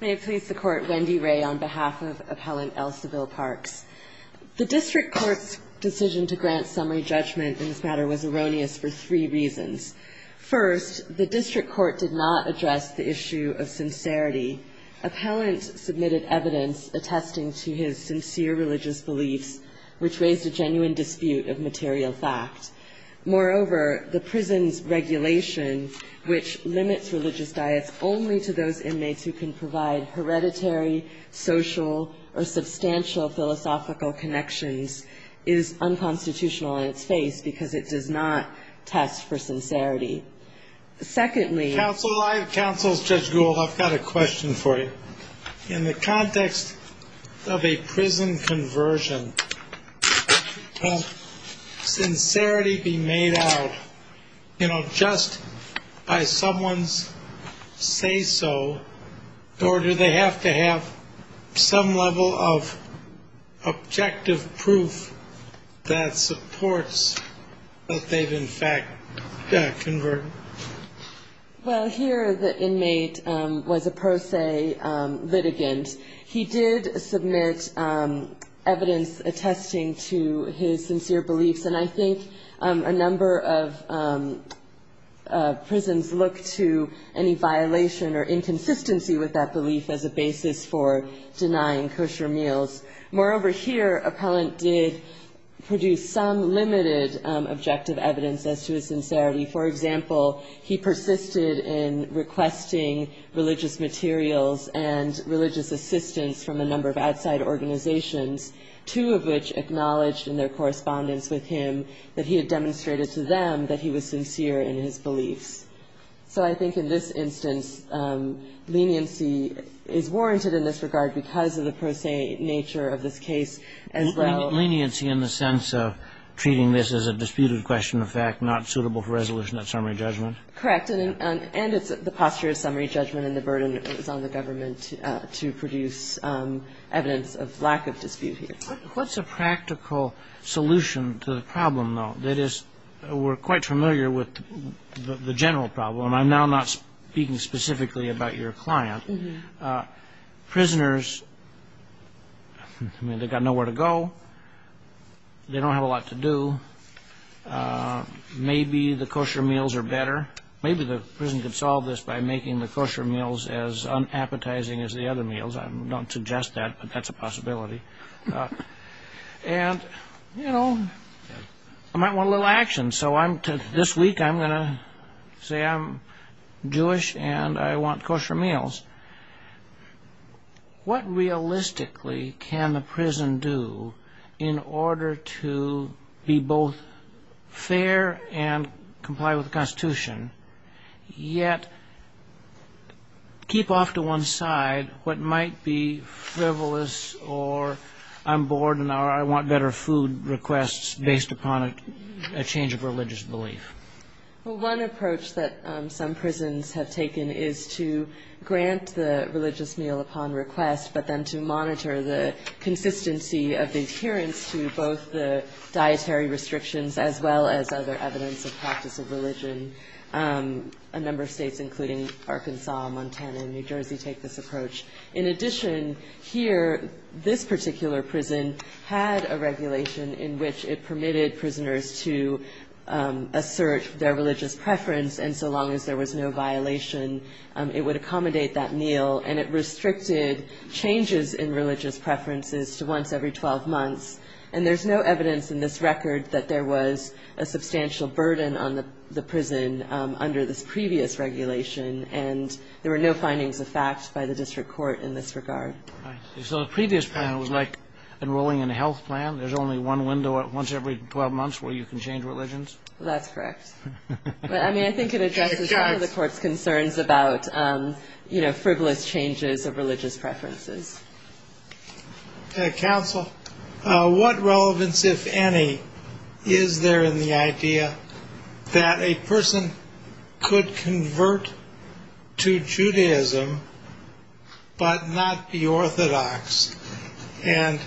May it please the Court, Wendy Ray on behalf of Appellant Elseville Parks. The District Court's decision to grant summary judgment in this matter was erroneous for three reasons. First, the District Court did not address the issue of sincerity. Appellant submitted evidence attesting to his sincere religious beliefs, which raised a genuine dispute of material fact. Moreover, the prison's regulation, which limits religious diets only to those inmates who can provide hereditary, social, or substantial philosophical connections, is unconstitutional in its face because it does not test for sincerity. Secondly, Counsel, I, Counsel Judge Gould, I've got a question for you. In the context of a prison conversion, can sincerity be made out, you know, just by someone's say-so, or do they have to have some level of objective proof that supports that they've, in fact, converted? Well, here the inmate was a pro se litigant. He did submit evidence attesting to his sincere beliefs, and I think a number of prisons look to any violation or inconsistency with that belief as a basis for denying kosher meals. Moreover, here Appellant did produce some limited objective evidence as to his sincerity. For example, he persisted in requesting religious materials and religious assistance from a number of outside organizations, two of which acknowledged in their correspondence with him that he had demonstrated to them that he was sincere in his beliefs. So I think in this instance leniency is warranted in this regard because of the pro se nature of this case as well. So leniency in the sense of treating this as a disputed question of fact, not suitable for resolution at summary judgment? Correct. And it's the posture of summary judgment and the burden that is on the government to produce evidence of lack of dispute here. What's a practical solution to the problem, though? That is, we're quite familiar with the general problem, and I'm now not speaking specifically about your client. Prisoners, I mean, they've got nowhere to go. They don't have a lot to do. Maybe the kosher meals are better. Maybe the prison could solve this by making the kosher meals as unappetizing as the other meals. I don't suggest that, but that's a possibility. And, you know, I might want a little action. So this week I'm going to say I'm Jewish and I want kosher meals. What realistically can the prison do in order to be both fair and comply with the Constitution, yet keep off to one side what might be frivolous or I'm bored and I want better food requests based upon a change of religious belief? Well, one approach that some prisons have taken is to grant the religious meal upon request, but then to monitor the consistency of the adherence to both the dietary restrictions as well as other evidence of practice of religion. A number of states, including Arkansas, Montana and New Jersey, take this approach. In addition, here, this particular prison had a regulation in which it permitted prisoners to assert their religious preference. And so long as there was no violation, it would accommodate that meal. And it restricted changes in religious preferences to once every 12 months. And there's no evidence in this record that there was a substantial burden on the prison under this previous regulation. And there were no findings of fact by the district court in this regard. So the previous plan was like enrolling in a health plan? There's only one window at once every 12 months where you can change religions? That's correct. I mean, I think it addresses some of the court's concerns about, you know, frivolous changes of religious preferences. Counsel, what relevance, if any, is there in the idea that a person could convert to Judaism but not be Orthodox? And,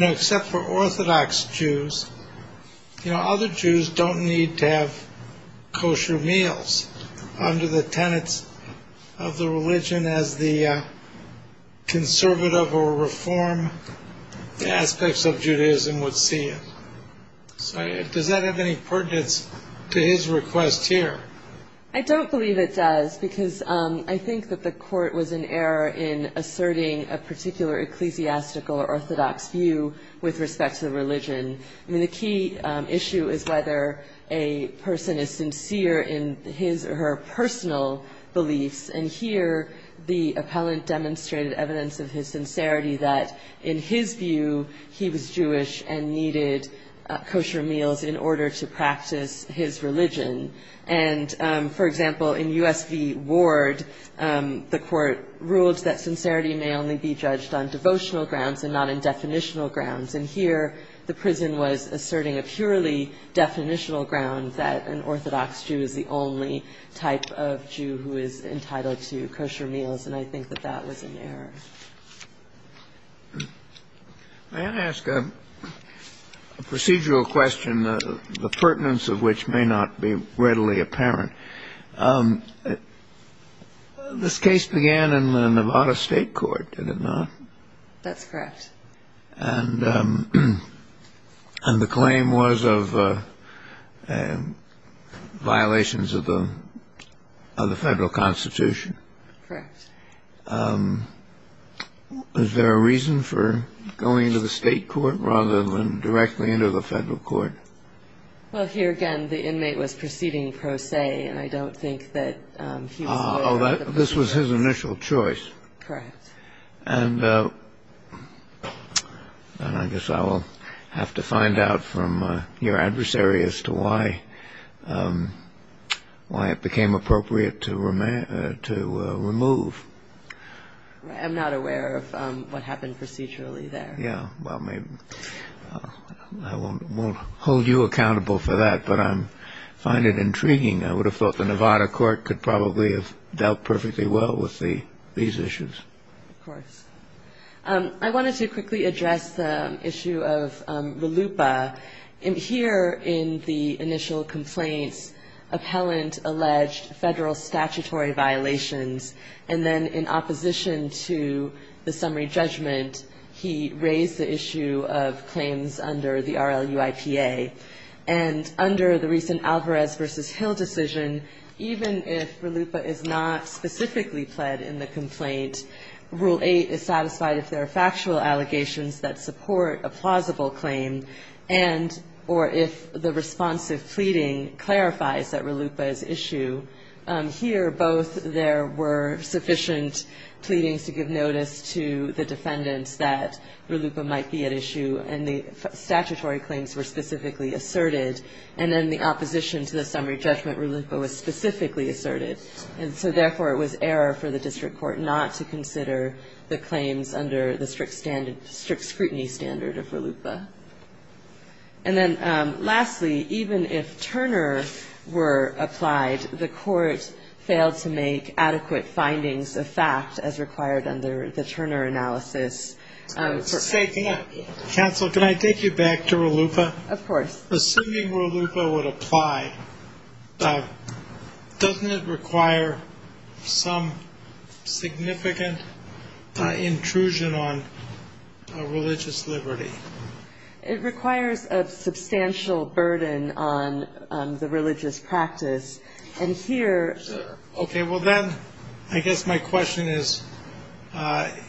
you know, except for Orthodox Jews, you know, other Jews don't need to have kosher meals under the tenets of the religion as the conservative, or Reform aspects of Judaism would see it. So does that have any pertinence to his request here? I don't believe it does, because I think that the court was in error in asserting a particular ecclesiastical or Orthodox view with respect to the religion. I mean, the key issue is whether a person is sincere in his or her personal beliefs. And here the appellant demonstrated evidence of his sincerity that, in his view, he was Jewish and needed kosher meals in order to practice his religion. And, for example, in U.S. v. Ward, the court ruled that sincerity may only be judged on devotional grounds and not in definitional grounds. And here the prison was asserting a purely definitional ground that an Orthodox Jew is the only type of Jew who is entirely Jewish. And here the court was asserting a purely definitional ground that an Orthodox Jew is the only type of Jew who is entirely Jewish. May I ask a procedural question, the pertinence of which may not be readily apparent? This case began in the Nevada State Court, did it not? That's correct. And the claim was of violations of the Federal Constitution. Correct. Is there a reason for going to the State Court rather than directly into the Federal Court? Well, here, again, the inmate was proceeding pro se, and I don't think that he was aware of the procedure. This was his initial choice. And I guess I will have to find out from your adversary as to why it became appropriate to remove. I'm not aware of what happened procedurally there. I won't hold you accountable for that, but I find it intriguing. I would have thought the Nevada Court could probably have dealt perfectly well with these issues. Of course. I wanted to quickly address the issue of RLUIPA. Here in the initial complaints, appellant alleged Federal statutory violations, and then in opposition to the summary judgment, he raised the issue of claims under the RLUIPA. And under the recent Alvarez v. Hill decision, even if RLUIPA is not specifically pled in the complaint, Rule 8 is satisfied if there are factual allegations that support a plausible claim, and or if the responsive pleading clarifies that RLUIPA is issue. Here, both there were sufficient pleadings to give notice to the defendants that RLUIPA might be at issue, and the statutory claims were specifically at issue. And then in the opposition to the summary judgment, RLUIPA was specifically asserted, and so therefore it was error for the district court not to consider the claims under the strict scrutiny standard of RLUIPA. And then lastly, even if Turner were applied, the court failed to make adequate findings of fact as required under the Turner analysis. And so I think I'm going to leave it at this. For a second, counsel, can I take you back to RLUIPA? Of course. Assuming RLUIPA would apply, doesn't it require some significant intrusion on religious liberty? It requires a substantial burden on the religious practice. And here. OK, well, then I guess my question is,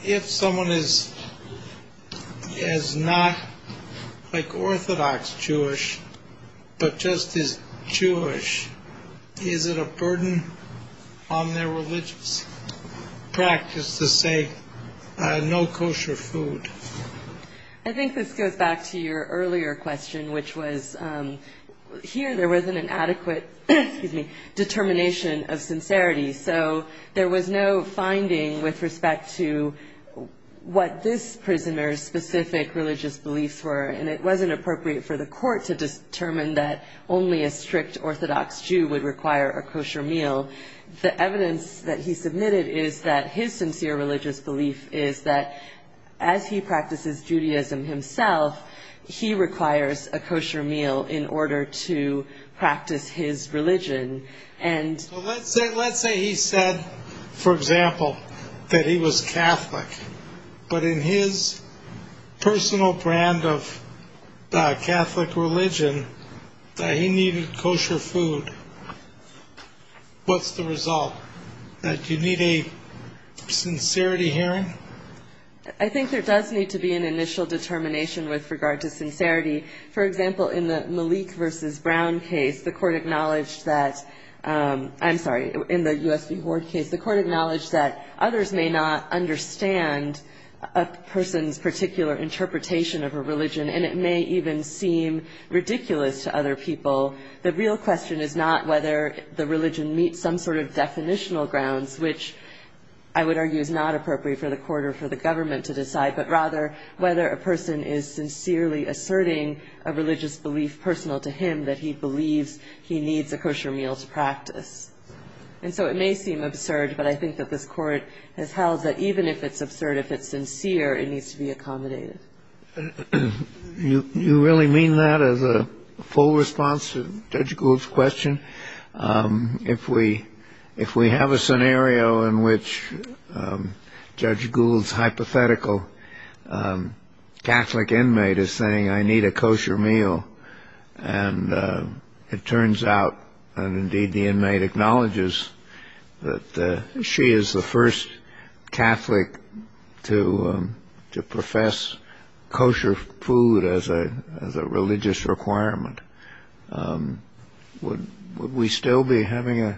if someone is not like Orthodox Jewish, but just is Jewish, is it a burden on their religious practice to say no kosher food? I think this goes back to your earlier question, which was here there wasn't an adequate determination of sincerity. So there was no finding with respect to what this prisoner's specific religious beliefs were. And it wasn't appropriate for the court to determine that only a strict Orthodox Jew would require a kosher meal. So the evidence that he submitted is that his sincere religious belief is that as he practices Judaism himself, he requires a kosher meal in order to practice his religion. Let's say he said, for example, that he was Catholic, but in his personal brand of Catholic religion, that he needed kosher food. What's the result? Do you need a sincerity hearing? I think there does need to be an initial determination with regard to sincerity. For example, in the Malik versus Brown case, the court acknowledged that, I'm sorry, in the U.S. v. Horde case, the court acknowledged that others may not understand a person's particular interpretation of a religion, and it may even seem ridiculous to other people. The real question is not whether the religion meets some sort of definitional grounds, which I would argue is not appropriate for the court or for the government to decide, but rather whether a person is sincerely asserting a religious belief personal to him that he believes he needs a kosher meal to practice. And so it may seem absurd, but I think that this court has held that even if it's absurd, if it's sincere, it needs to be accommodated. You really mean that as a full response to Judge Gould's question? If we have a scenario in which Judge Gould's hypothetical Catholic inmate is saying, I need a kosher meal, and it turns out, and indeed the inmate acknowledges, that she is the first Catholic to profess kosher food as a religious requirement, would we still be having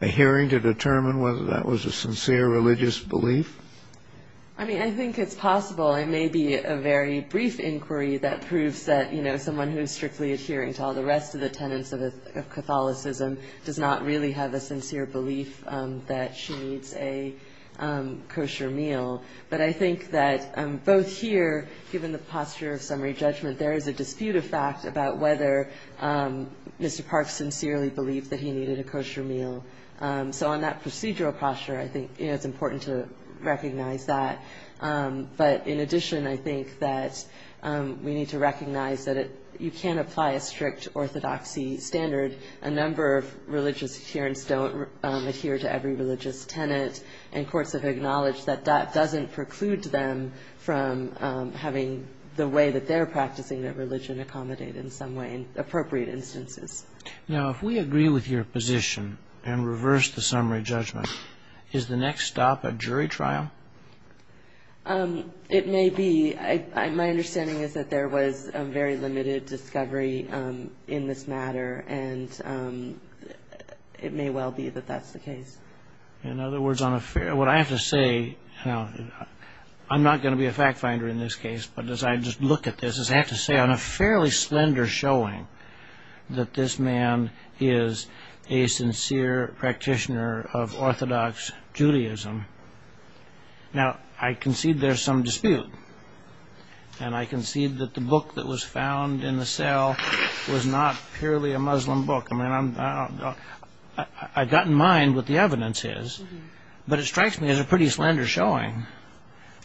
a hearing to determine whether that was a sincere religious belief? I mean, I think it's possible. It may be a very brief inquiry that proves that someone who is strictly adhering to all the rest of the tenets of Catholicism does not really have a sincere belief that she needs a kosher meal. But I think that both here, given the posture of summary judgment, there is a dispute of fact about whether Mr. Park sincerely believed that he needed a kosher meal. So on that procedural posture, I think it's important to recognize that. But in addition, I think that we need to recognize that you can't apply a strict orthodoxy standard. A number of religious adherents don't adhere to every religious tenet, and courts have acknowledged that that doesn't preclude them from having the way that they're practicing their religion accommodate in some way in appropriate instances. Now, if we agree with your position and reverse the summary judgment, is the next stop a jury trial? It may be. My understanding is that there was very limited discovery in this matter, and it may well be that that's the case. In other words, what I have to say, I'm not going to be a fact finder in this case, but as I just look at this, is I have to say on a fairly slender showing that this man is a sincere practitioner of orthodox Judaism. Now, I concede there's some dispute, and I concede that the book that was found in the cell was not purely a Muslim book. I mean, I don't know. I've got in mind what the evidence is, but it strikes me as a pretty slender showing.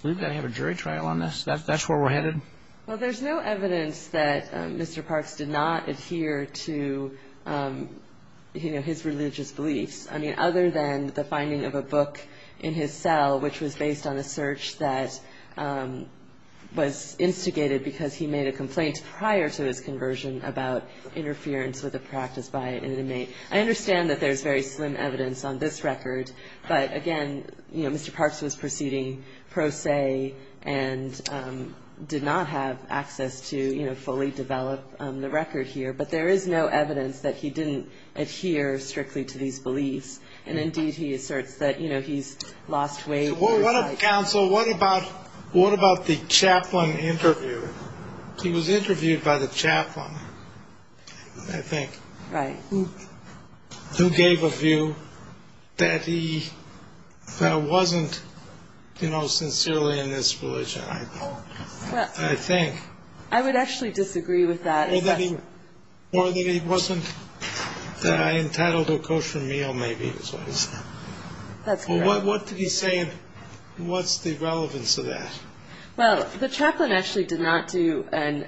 We've got to have a jury trial on this? That's where we're headed? Well, there's no evidence that Mr. Parks did not adhere to, you know, his religious beliefs, I mean, other than the finding of a book in his cell, which was based on a search that was instigated because he made a complaint prior to his conversion about interference with a practice by an inmate. I understand that there's very slim evidence on this record, but again, you know, Mr. Parks was proceeding pro se and did not have access to, you know, fully develop the record here, but there is no evidence that he didn't adhere strictly to these beliefs. And indeed, he asserts that, you know, he's lost weight. Well, what about the chaplain interview? He was interviewed by the chaplain, I think. Right. Who gave a view that he wasn't, you know, sincerely in this religion, I think. I would actually disagree with that. Or that he wasn't entitled to a kosher meal, maybe. That's correct. What's the relevance of that? Well, the chaplain actually did not do an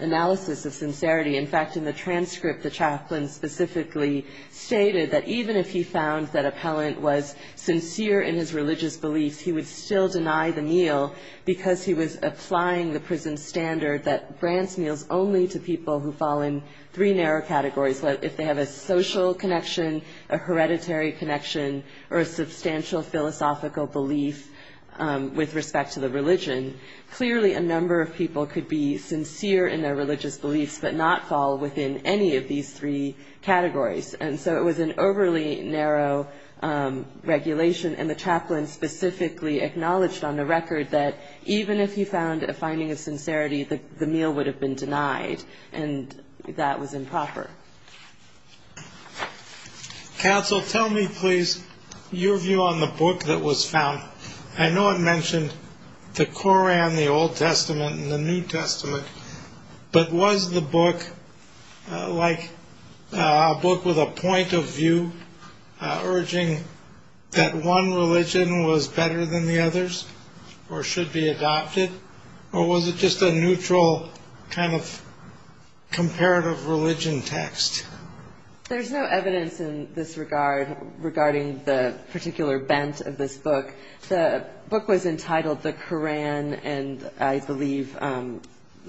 analysis of sincerity. In fact, in the transcript, the chaplain specifically stated that even if he found that appellant was sincere in his religious beliefs, he would still deny the meal because he was applying the prison standard that grants meals only to people who fall in three narrow categories. If they have a social connection, a hereditary connection, or a substantial philosophical belief with respect to the religion, clearly a number of people could be sincere in their religious beliefs but not fall within any of these three categories. And so it was an overly narrow regulation. And the chaplain specifically acknowledged on the record that even if he found a finding of sincerity, the meal would have been denied. And that was improper. Counsel, tell me, please, your view on the book that was found. I know it mentioned the Koran, the Old Testament, and the New Testament. But was the book like a book with a point of view urging that one religion was better than the others or should be adopted? Or was it just a neutral kind of comparative religion text? There's no evidence in this regard regarding the particular bent of this book. The book was entitled The Koran and, I believe,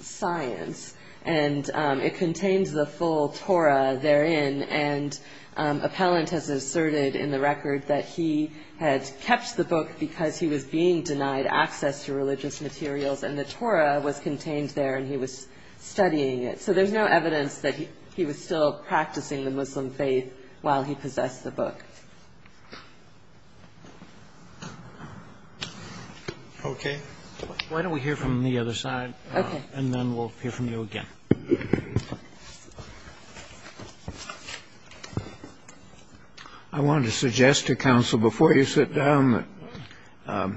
Science. And it contains the full Torah therein. And Appellant has asserted in the record that he had kept the book because he was being denied access to religious materials. And the Torah was contained there and he was studying it. So there's no evidence that he was still practicing the Muslim faith while he possessed the book. Okay. Why don't we hear from the other side and then we'll hear from you again. I wanted to suggest to counsel before you sit down that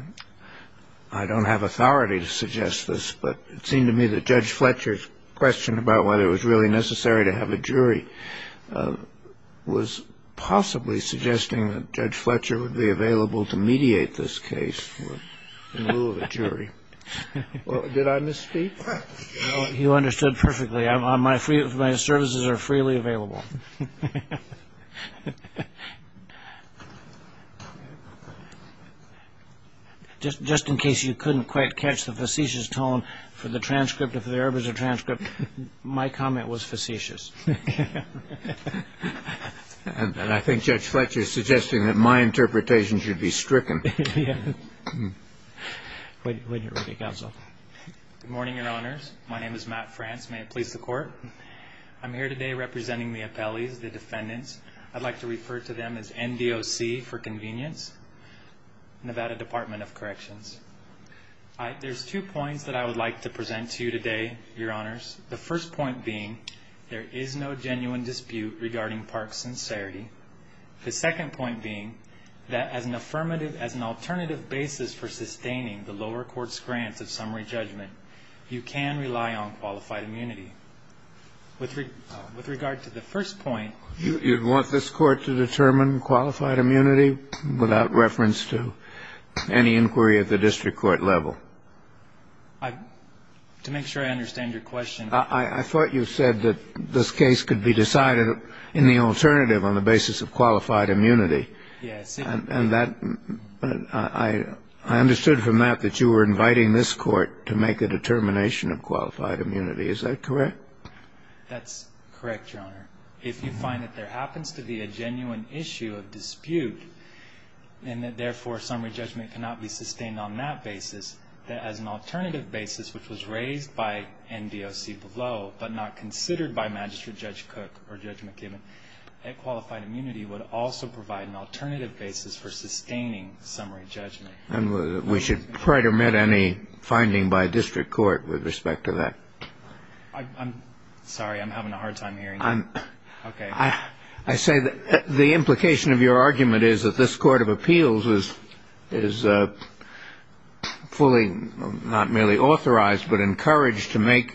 I don't have authority to suggest this, but it seemed to me that Judge Fletcher's question about whether it was really necessary to have a jury was possibly suggesting that Judge Fletcher would be available to mediate this case in lieu of a jury. Did I misspeak? No, you understood perfectly. My services are freely available. Just in case you couldn't quite catch the facetious tone for the transcript, if there ever was a transcript, my comment was facetious. And I think Judge Fletcher is suggesting that my interpretation should be stricken. Wait here with me, counsel. Good morning, Your Honors. My name is Matt France. I'm here today representing the Appeals Court. I'd like to refer to them as NDOC for convenience, Nevada Department of Corrections. There's two points that I would like to present to you today, Your Honors. The first point being there is no genuine dispute regarding Park's sincerity. The second point being that as an alternative basis for sustaining the lower court's grant of summary judgment, you can rely on qualified immunity. With regard to the first point. You'd want this court to determine qualified immunity without reference to any inquiry at the district court level? To make sure I understand your question. I thought you said that this case could be decided in the alternative on the basis of qualified immunity. Yes. And I understood from that that you were inviting this court to make a determination of qualified immunity. Is that correct? That's correct, Your Honor. If you find that there happens to be a genuine issue of dispute and that, therefore, summary judgment cannot be sustained on that basis, that as an alternative basis, which was raised by NDOC below but not considered by Magistrate Judge Cook or Judge McKibben, that qualified immunity would also provide an alternative basis for sustaining summary judgment. We should pretermend any finding by district court with respect to that. I'm sorry. I'm having a hard time hearing you. Okay. I say that the implication of your argument is that this court of appeals is fully not merely authorized but encouraged to make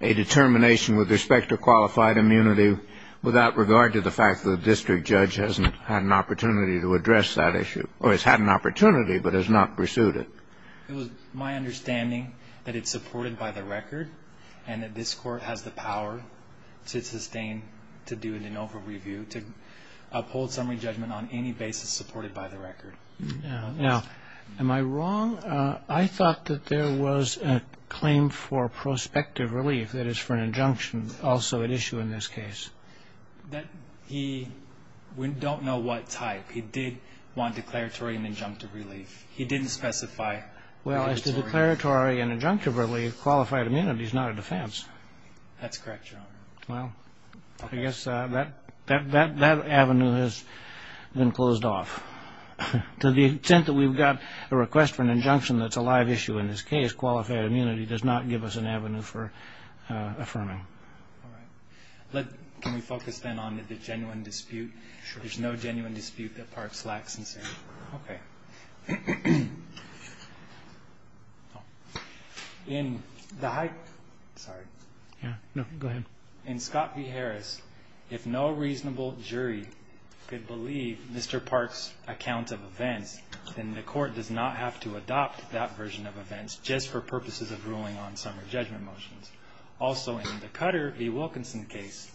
a determination with respect to qualified immunity without regard to the fact that the district judge hasn't had an opportunity to address that issue or has had an opportunity but has not pursued it. It was my understanding that it's supported by the record and that this court has the power to sustain, to do an over-review, to uphold summary judgment on any basis supported by the record. Now, am I wrong? I thought that there was a claim for prospective relief, that is, for an injunction, also at issue in this case. We don't know what type. He did want declaratory and injunctive relief. He didn't specify declaratory. Well, as to declaratory and injunctive relief, qualified immunity is not a defense. That's correct, Your Honor. Well, I guess that avenue has been closed off. To the extent that we've got a request for an injunction that's a live issue in this case, qualified immunity does not give us an avenue for affirming. All right. Can we focus then on the genuine dispute? Sure. There's no genuine dispute that Parks lacks sincerity. Okay. In Scott v. Harris, if no reasonable jury could believe Mr. Parks' account of events, then the court does not have to adopt that version of events just for purposes of ruling on summary judgment motions. Also, in the Cutter v. Wilkinson case,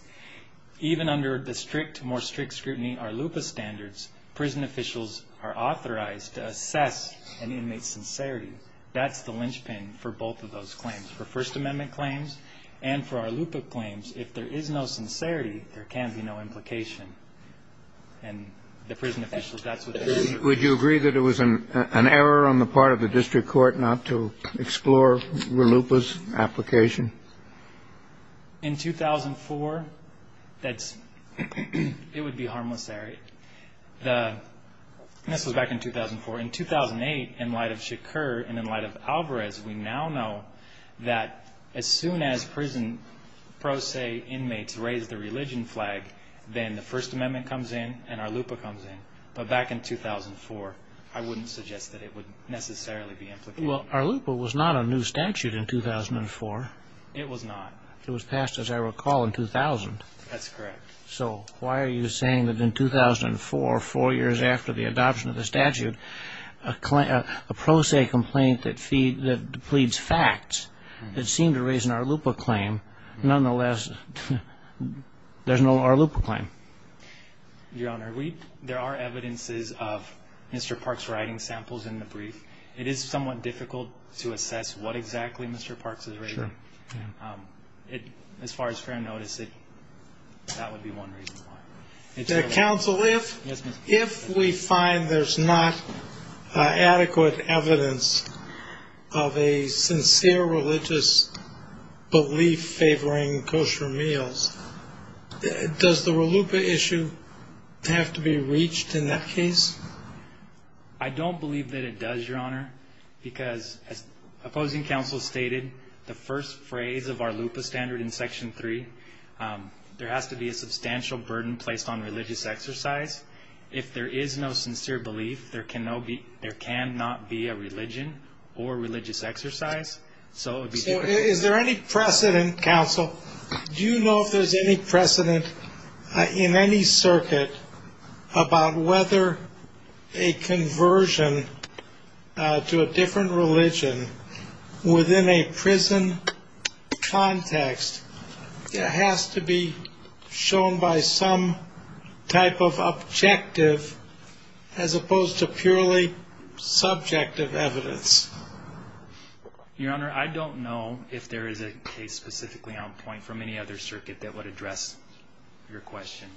even under the strict, more strict scrutiny ARLUPA standards, prison officials are authorized to assess an inmate's sincerity. That's the linchpin for both of those claims, for First Amendment claims and for ARLUPA claims. If there is no sincerity, there can be no implication. And the prison officials, that's what they say. Would you agree that it was an error on the part of the district court not to explore ARLUPA's application? In 2004, it would be harmless, Eric. This was back in 2004. In 2008, in light of Shakur and in light of Alvarez, we now know that as soon as prison pro se inmates raise the religion flag, then the First Amendment comes in and ARLUPA comes in. But back in 2004, I wouldn't suggest that it would necessarily be implicated. Well, ARLUPA was not a new statute in 2004. It was not. It was passed, as I recall, in 2000. That's correct. So why are you saying that in 2004, four years after the adoption of the statute, a pro se complaint that pleads facts, it seemed to raise an ARLUPA claim. Nonetheless, there's no ARLUPA claim. Your Honor, there are evidences of Mr. Park's writing samples in the brief. It is somewhat difficult to assess what exactly Mr. Park's is writing. As far as fair notice, that would be one reason why. Counsel, if we find there's not adequate evidence of a sincere religious belief favoring kosher meals, does the ARLUPA issue have to be reached in that case? I don't believe that it does, Your Honor, because as opposing counsel stated, the first phrase of ARLUPA standard in Section 3, there has to be a substantial burden placed on religious exercise. If there is no sincere belief, there can not be a religion or religious exercise. So is there any precedent, counsel, do you know if there's any precedent in any case where a conversion to a different religion within a prison context has to be shown by some type of objective as opposed to purely subjective evidence? Your Honor, I don't know if there is a case specifically on point from any other circuit that would address your question.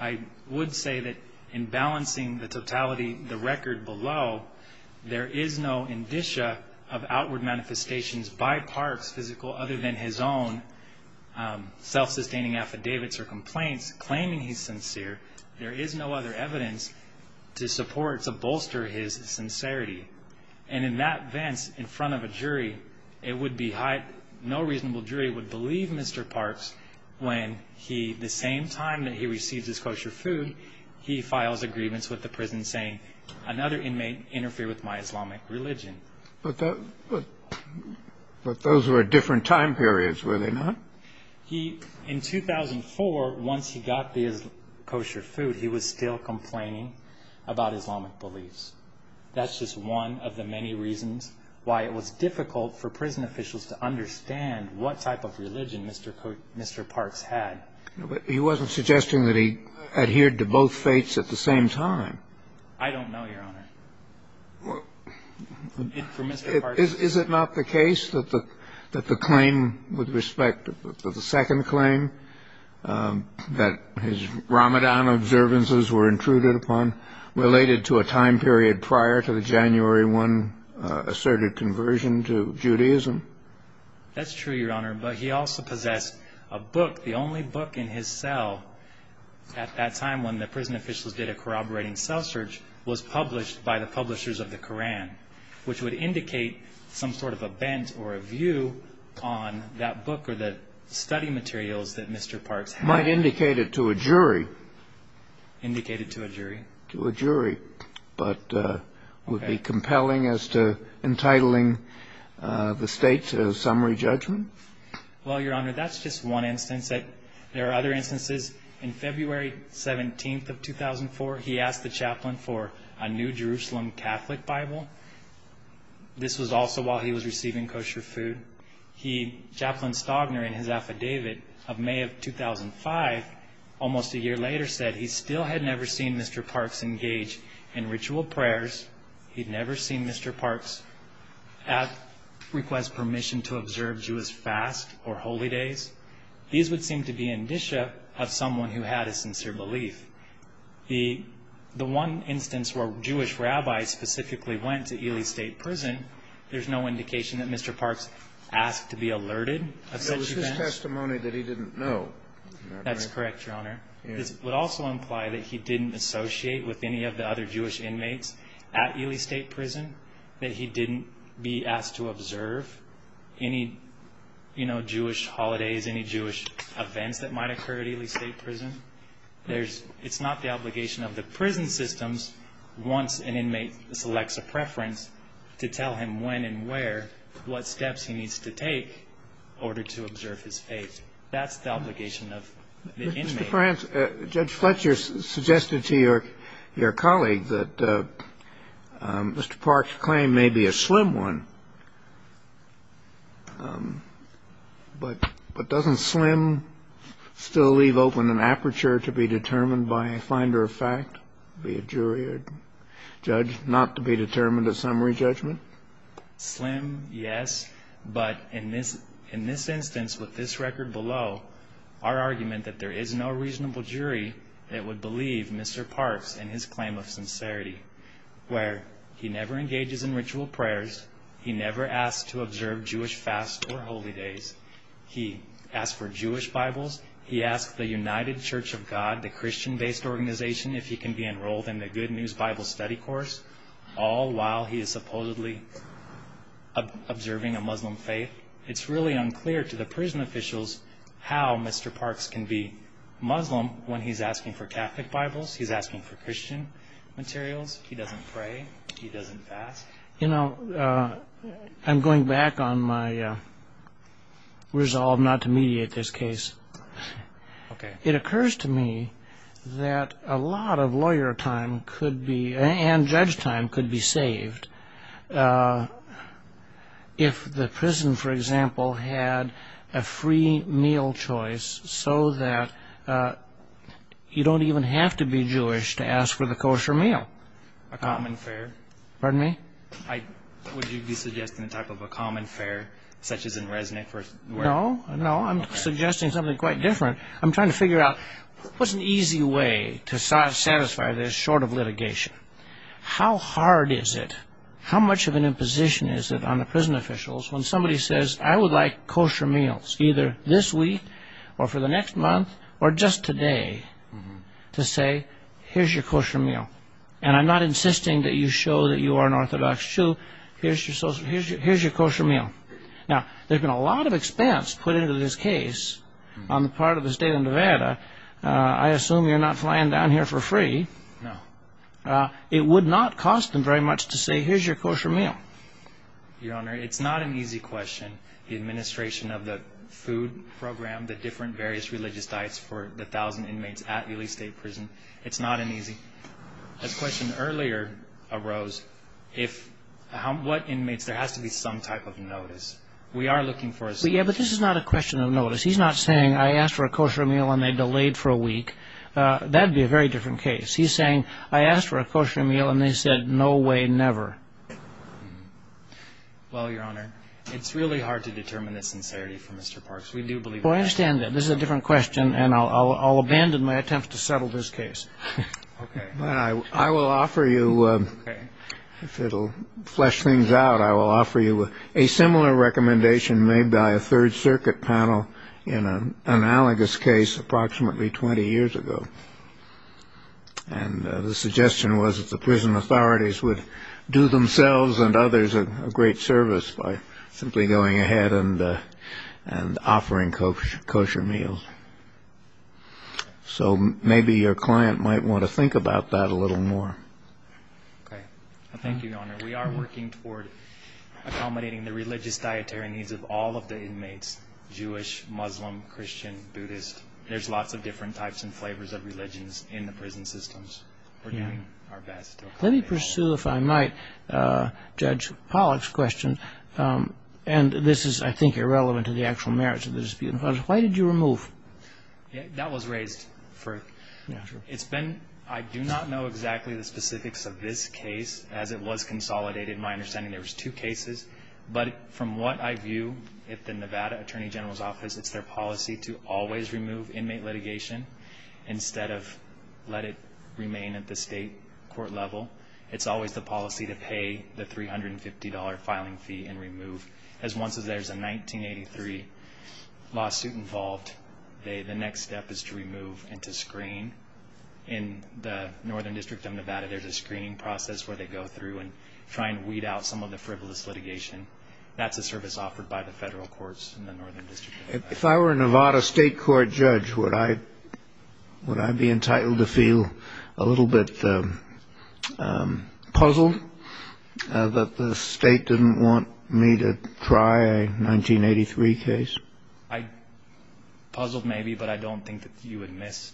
I would say that in balancing the totality, the record below, there is no indicia of outward manifestations by Park's physical other than his own self-sustaining affidavits or complaints claiming he's sincere. There is no other evidence to support, to bolster his sincerity. And in that vence in front of a jury, it would be high, no reasonable jury would believe Mr. Park's when he, the same time that he receives his kosher food, he files a grievance with the prison saying another inmate interfered with my Islamic religion. But those were different time periods, were they not? He, in 2004, once he got the kosher food, he was still complaining about Islamic beliefs. That's just one of the many reasons why it was difficult for prison officials to find evidence that Mr. Park's had. But he wasn't suggesting that he adhered to both fates at the same time. I don't know, Your Honor. Is it not the case that the claim with respect to the second claim that his Ramadan observances were intruded upon related to a time period prior to the January 1 asserted conversion to Judaism? That's true, Your Honor. But he also possessed a book. The only book in his cell at that time when the prison officials did a corroborating cell search was published by the publishers of the Koran, which would indicate some sort of a bent or a view on that book or the study materials that Mr. Park's had. Might indicate it to a jury. Indicate it to a jury. To a jury. But would be compelling as to entitling the state to a summary judgment? Well, Your Honor, that's just one instance. There are other instances. In February 17th of 2004, he asked the chaplain for a new Jerusalem Catholic Bible. This was also while he was receiving kosher food. Chaplain Stogner in his affidavit of May of 2005, almost a year later, said he still had never seen Mr. Park's engage in ritual prayers. He'd never seen Mr. Park's request permission to observe Jewish fast or holy days. These would seem to be indicia of someone who had a sincere belief. The one instance where Jewish rabbis specifically went to Ely State Prison, there's no indication that Mr. Park's asked to be alerted of such events. It was just testimony that he didn't know. That's correct, Your Honor. This would also imply that he didn't associate with any of the other Jewish inmates at Ely State Prison, that he didn't be asked to observe any Jewish holidays, any Jewish events that might occur at Ely State Prison. It's not the obligation of the prison systems, once an inmate selects a preference, to tell him when and where, what steps he needs to take in order to That's the obligation of the inmates. Judge Fletcher suggested to your colleague that Mr. Park's claim may be a slim one, but doesn't slim still leave open an aperture to be determined by a finder of fact, be it jury or judge, not to be determined at summary judgment? Slim, yes, but in this instance, with this record below, our argument that there is no reasonable jury that would believe Mr. Park's in his claim of sincerity, where he never engages in ritual prayers, he never asks to observe Jewish fasts or holy days, he asks for Jewish Bibles, he asks the United Church of God, the Christian-based organization, if he can be enrolled in the Good News Bible Study course, all while he is supposedly observing a Muslim faith. It's really unclear to the prison officials how Mr. Park's can be Muslim when he's asking for Catholic Bibles, he's asking for Christian materials, he doesn't pray, he doesn't fast. You know, I'm going back on my resolve not to mediate this case. It occurs to me that a lot of lawyer time and judge time could be saved if the prison, for example, had a free meal choice so that you don't even have to be Jewish to ask for the kosher meal. Would you be suggesting a type of a common fare such as in Resnick? No, no, I'm suggesting something quite different. I'm trying to figure out what's an easy way to satisfy this short of litigation. How hard is it, how much of an imposition is it on the prison officials when somebody says, I would like kosher meals either this week or for the next month or just today to say, here's your kosher meal. And I'm not insisting that you show that you are an Orthodox Jew, here's your kosher meal. Now, there's been a lot of expense put into this case on the part of the state of Nevada. I assume you're not flying down here for free. No. It would not cost them very much to say, here's your kosher meal. Your Honor, it's not an easy question. The administration of the food program, the different various religious diets for the thousand inmates at Ely State Prison, it's not an easy. This question earlier arose, what inmates, there has to be some type of notice. We are looking for a notice. But this is not a question of notice. He's not saying, I asked for a kosher meal and they delayed for a week. That would be a very different case. He's saying, I asked for a kosher meal and they said, no way, never. Well, Your Honor, it's really hard to determine the sincerity for Mr. Parks. We do believe that. Well, I understand that this is a different question and I'll abandon my attempt to settle this case. OK. I will offer you if it'll flesh things out. I will offer you a similar recommendation made by a Third Circuit panel in an analogous case approximately 20 years ago. And the suggestion was that the prison authorities would do themselves and others a great service by simply going ahead and offering kosher meals. So maybe your client might want to think about that a little more. OK. Thank you, Your Honor. We are working toward accommodating the religious dietary needs of all of the inmates, Jewish, Muslim, Christian, Buddhist. There's lots of different types and flavors of religions in the prison systems. We're doing our best. Let me pursue, if I might, Judge Pollack's question. And this is, I think, irrelevant to the actual merits of the dispute. Why did you remove? That was raised. I do not know exactly the specifics of this case as it was consolidated. In my understanding, there was two cases. But from what I view, if the Nevada Attorney General's Office, it's their policy to always remove inmate litigation instead of let it remain at the state court level. It's always the policy to pay the $350 filing fee and remove. As once there's a 1983 lawsuit involved, the next step is to remove and to screen. In the Northern District of Nevada, there's a screening process where they go through and try and weed out some of the frivolous litigation. That's a service offered by the federal courts in the Northern District of Nevada. If I were a Nevada state court judge, would I be entitled to feel a little bit puzzled that the state didn't want me to try a 1983 case? Puzzled maybe, but I don't think that you would miss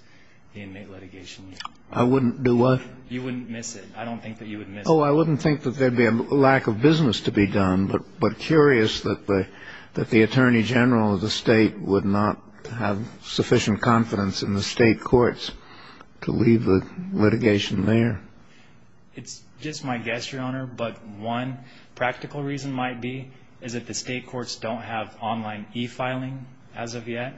the inmate litigation. I wouldn't do what? You wouldn't miss it. I don't think that you would miss it. Oh, I wouldn't think that there'd be a lack of business to be done, but curious that the Attorney General of the state would not have sufficient confidence in the state courts to leave the litigation there. It's just my guess, Your Honor, but one practical reason might be is that the state courts don't have online e-filing as of yet.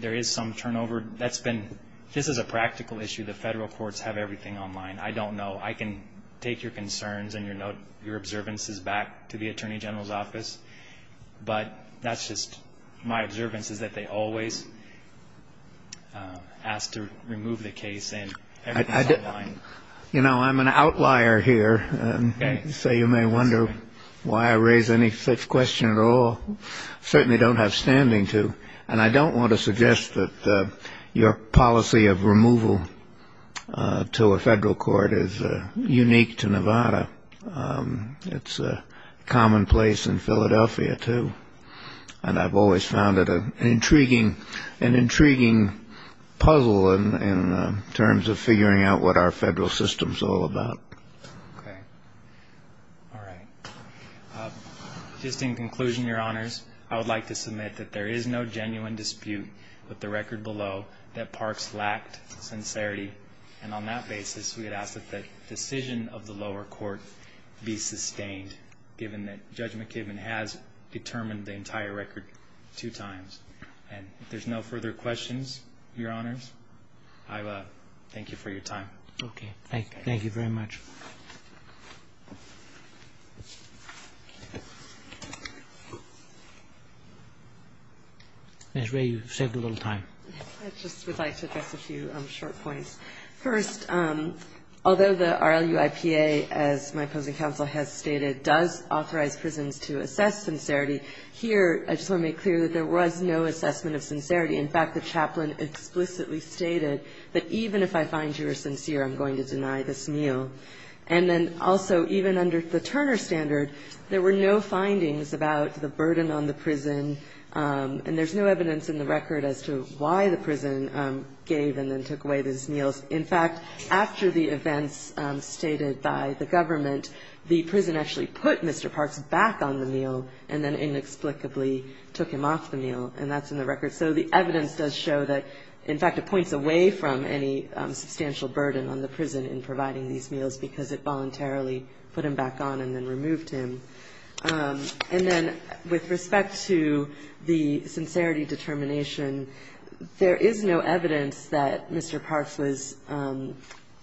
There is some turnover. This is a practical issue. The federal courts have everything online. I don't know. I can take your concerns and your observances back to the Attorney General's office, but that's just my observance is that they always ask to remove the case and everything's online. You know, I'm an outlier here, so you may wonder why I raise any such question at all. I certainly don't have standing to, and I don't want to suggest that your policy of removal to a federal court is unique to Nevada. It's commonplace in Philadelphia, too, and I've always found it an intriguing puzzle in terms of figuring out what our federal system's all about. Okay. All right. Just in conclusion, Your Honors, I would like to submit that there is no genuine dispute with the record below that Parks lacked sincerity, and on that basis, we would ask that the decision of the lower court be sustained, given that Judge McKibben has determined the entire record two times. And if there's no further questions, Your Honors, I thank you for your time. Okay. Thank you very much. Ms. Rae, you've saved a little time. I just would like to address a few short points. First, although the RLUIPA, as my opposing counsel has stated, does authorize prisons to assess sincerity, here I just want to make clear that there was no assessment of sincerity. In fact, the chaplain explicitly stated that even if I find you are sincere, I'm going to deny this meal. And then also, even under the Turner standard, there were no findings about the burden on the prison, and there's no evidence in the record as to why the prison gave and then took away these meals. In fact, after the events stated by the government, the prison actually put Mr. Parks back on the meal and then inexplicably took him off the meal, and that's in the record. So the evidence does show that, in fact, it points away from any substantial burden on the prison in providing these meals because it voluntarily put him back on and then removed him. And then with respect to the sincerity determination, there is no evidence that Mr. Parks was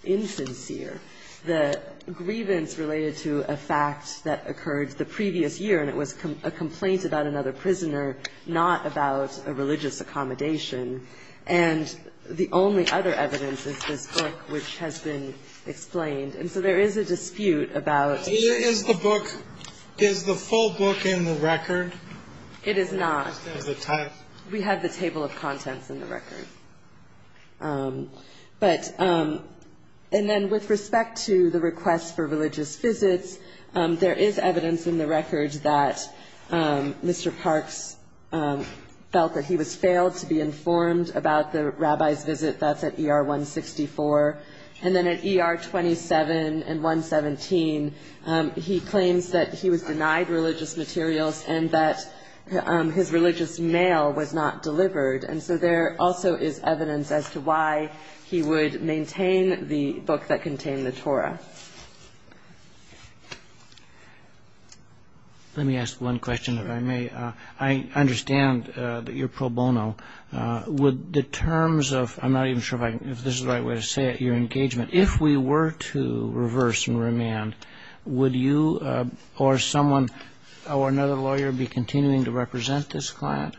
insincere. The grievance related to a fact that occurred the previous year, and it was a complaint about another prisoner, not about a religious accommodation. And the only other evidence is this book, which has been explained. And so there is a dispute about- Is the book, is the full book in the record? It is not. Is it tied? We have the table of contents in the record. And then with respect to the request for religious visits, there is evidence in the record that Mr. Parks felt that he was failed to be informed about the rabbi's visit. That's at ER 164. And then at ER 27 and 117, he claims that he was denied religious materials and that his religious mail was not delivered. And so there also is evidence as to why he would maintain the book that contained the Torah. Let me ask one question, if I may. I understand that you're pro bono. Would the terms of-I'm not even sure if this is the right way to say it-your engagement, if we were to reverse and remand, would you or someone or another lawyer be continuing to represent this client?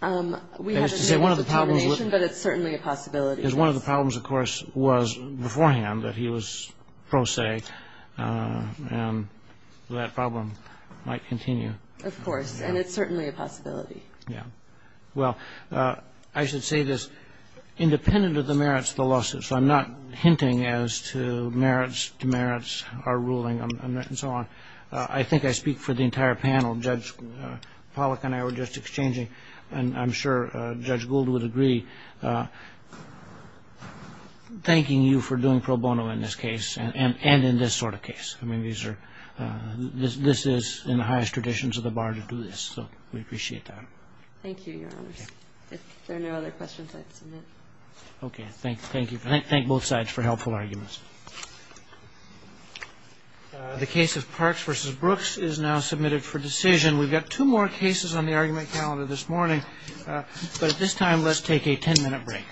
We haven't reached a determination, but it's certainly a possibility. Because one of the problems, of course, was beforehand that he was prosaic. And that problem might continue. Of course. And it's certainly a possibility. Yeah. Well, I should say this. Independent of the merits of the lawsuit, so I'm not hinting as to merits, demerits, our ruling, and so on, I think I speak for the entire panel. Judge Pollack and I were just exchanging, and I'm sure Judge Gould would agree, thanking you for doing pro bono in this case and in this sort of case. I mean, these are-this is in the highest traditions of the bar to do this. So we appreciate that. Thank you, Your Honors. If there are no other questions, I'd submit. Okay. Thank you. Thank both sides for helpful arguments. The case of Parks v. Brooks is now submitted for decision. We've got two more cases on the argument calendar this morning. But at this time, let's take a ten-minute break.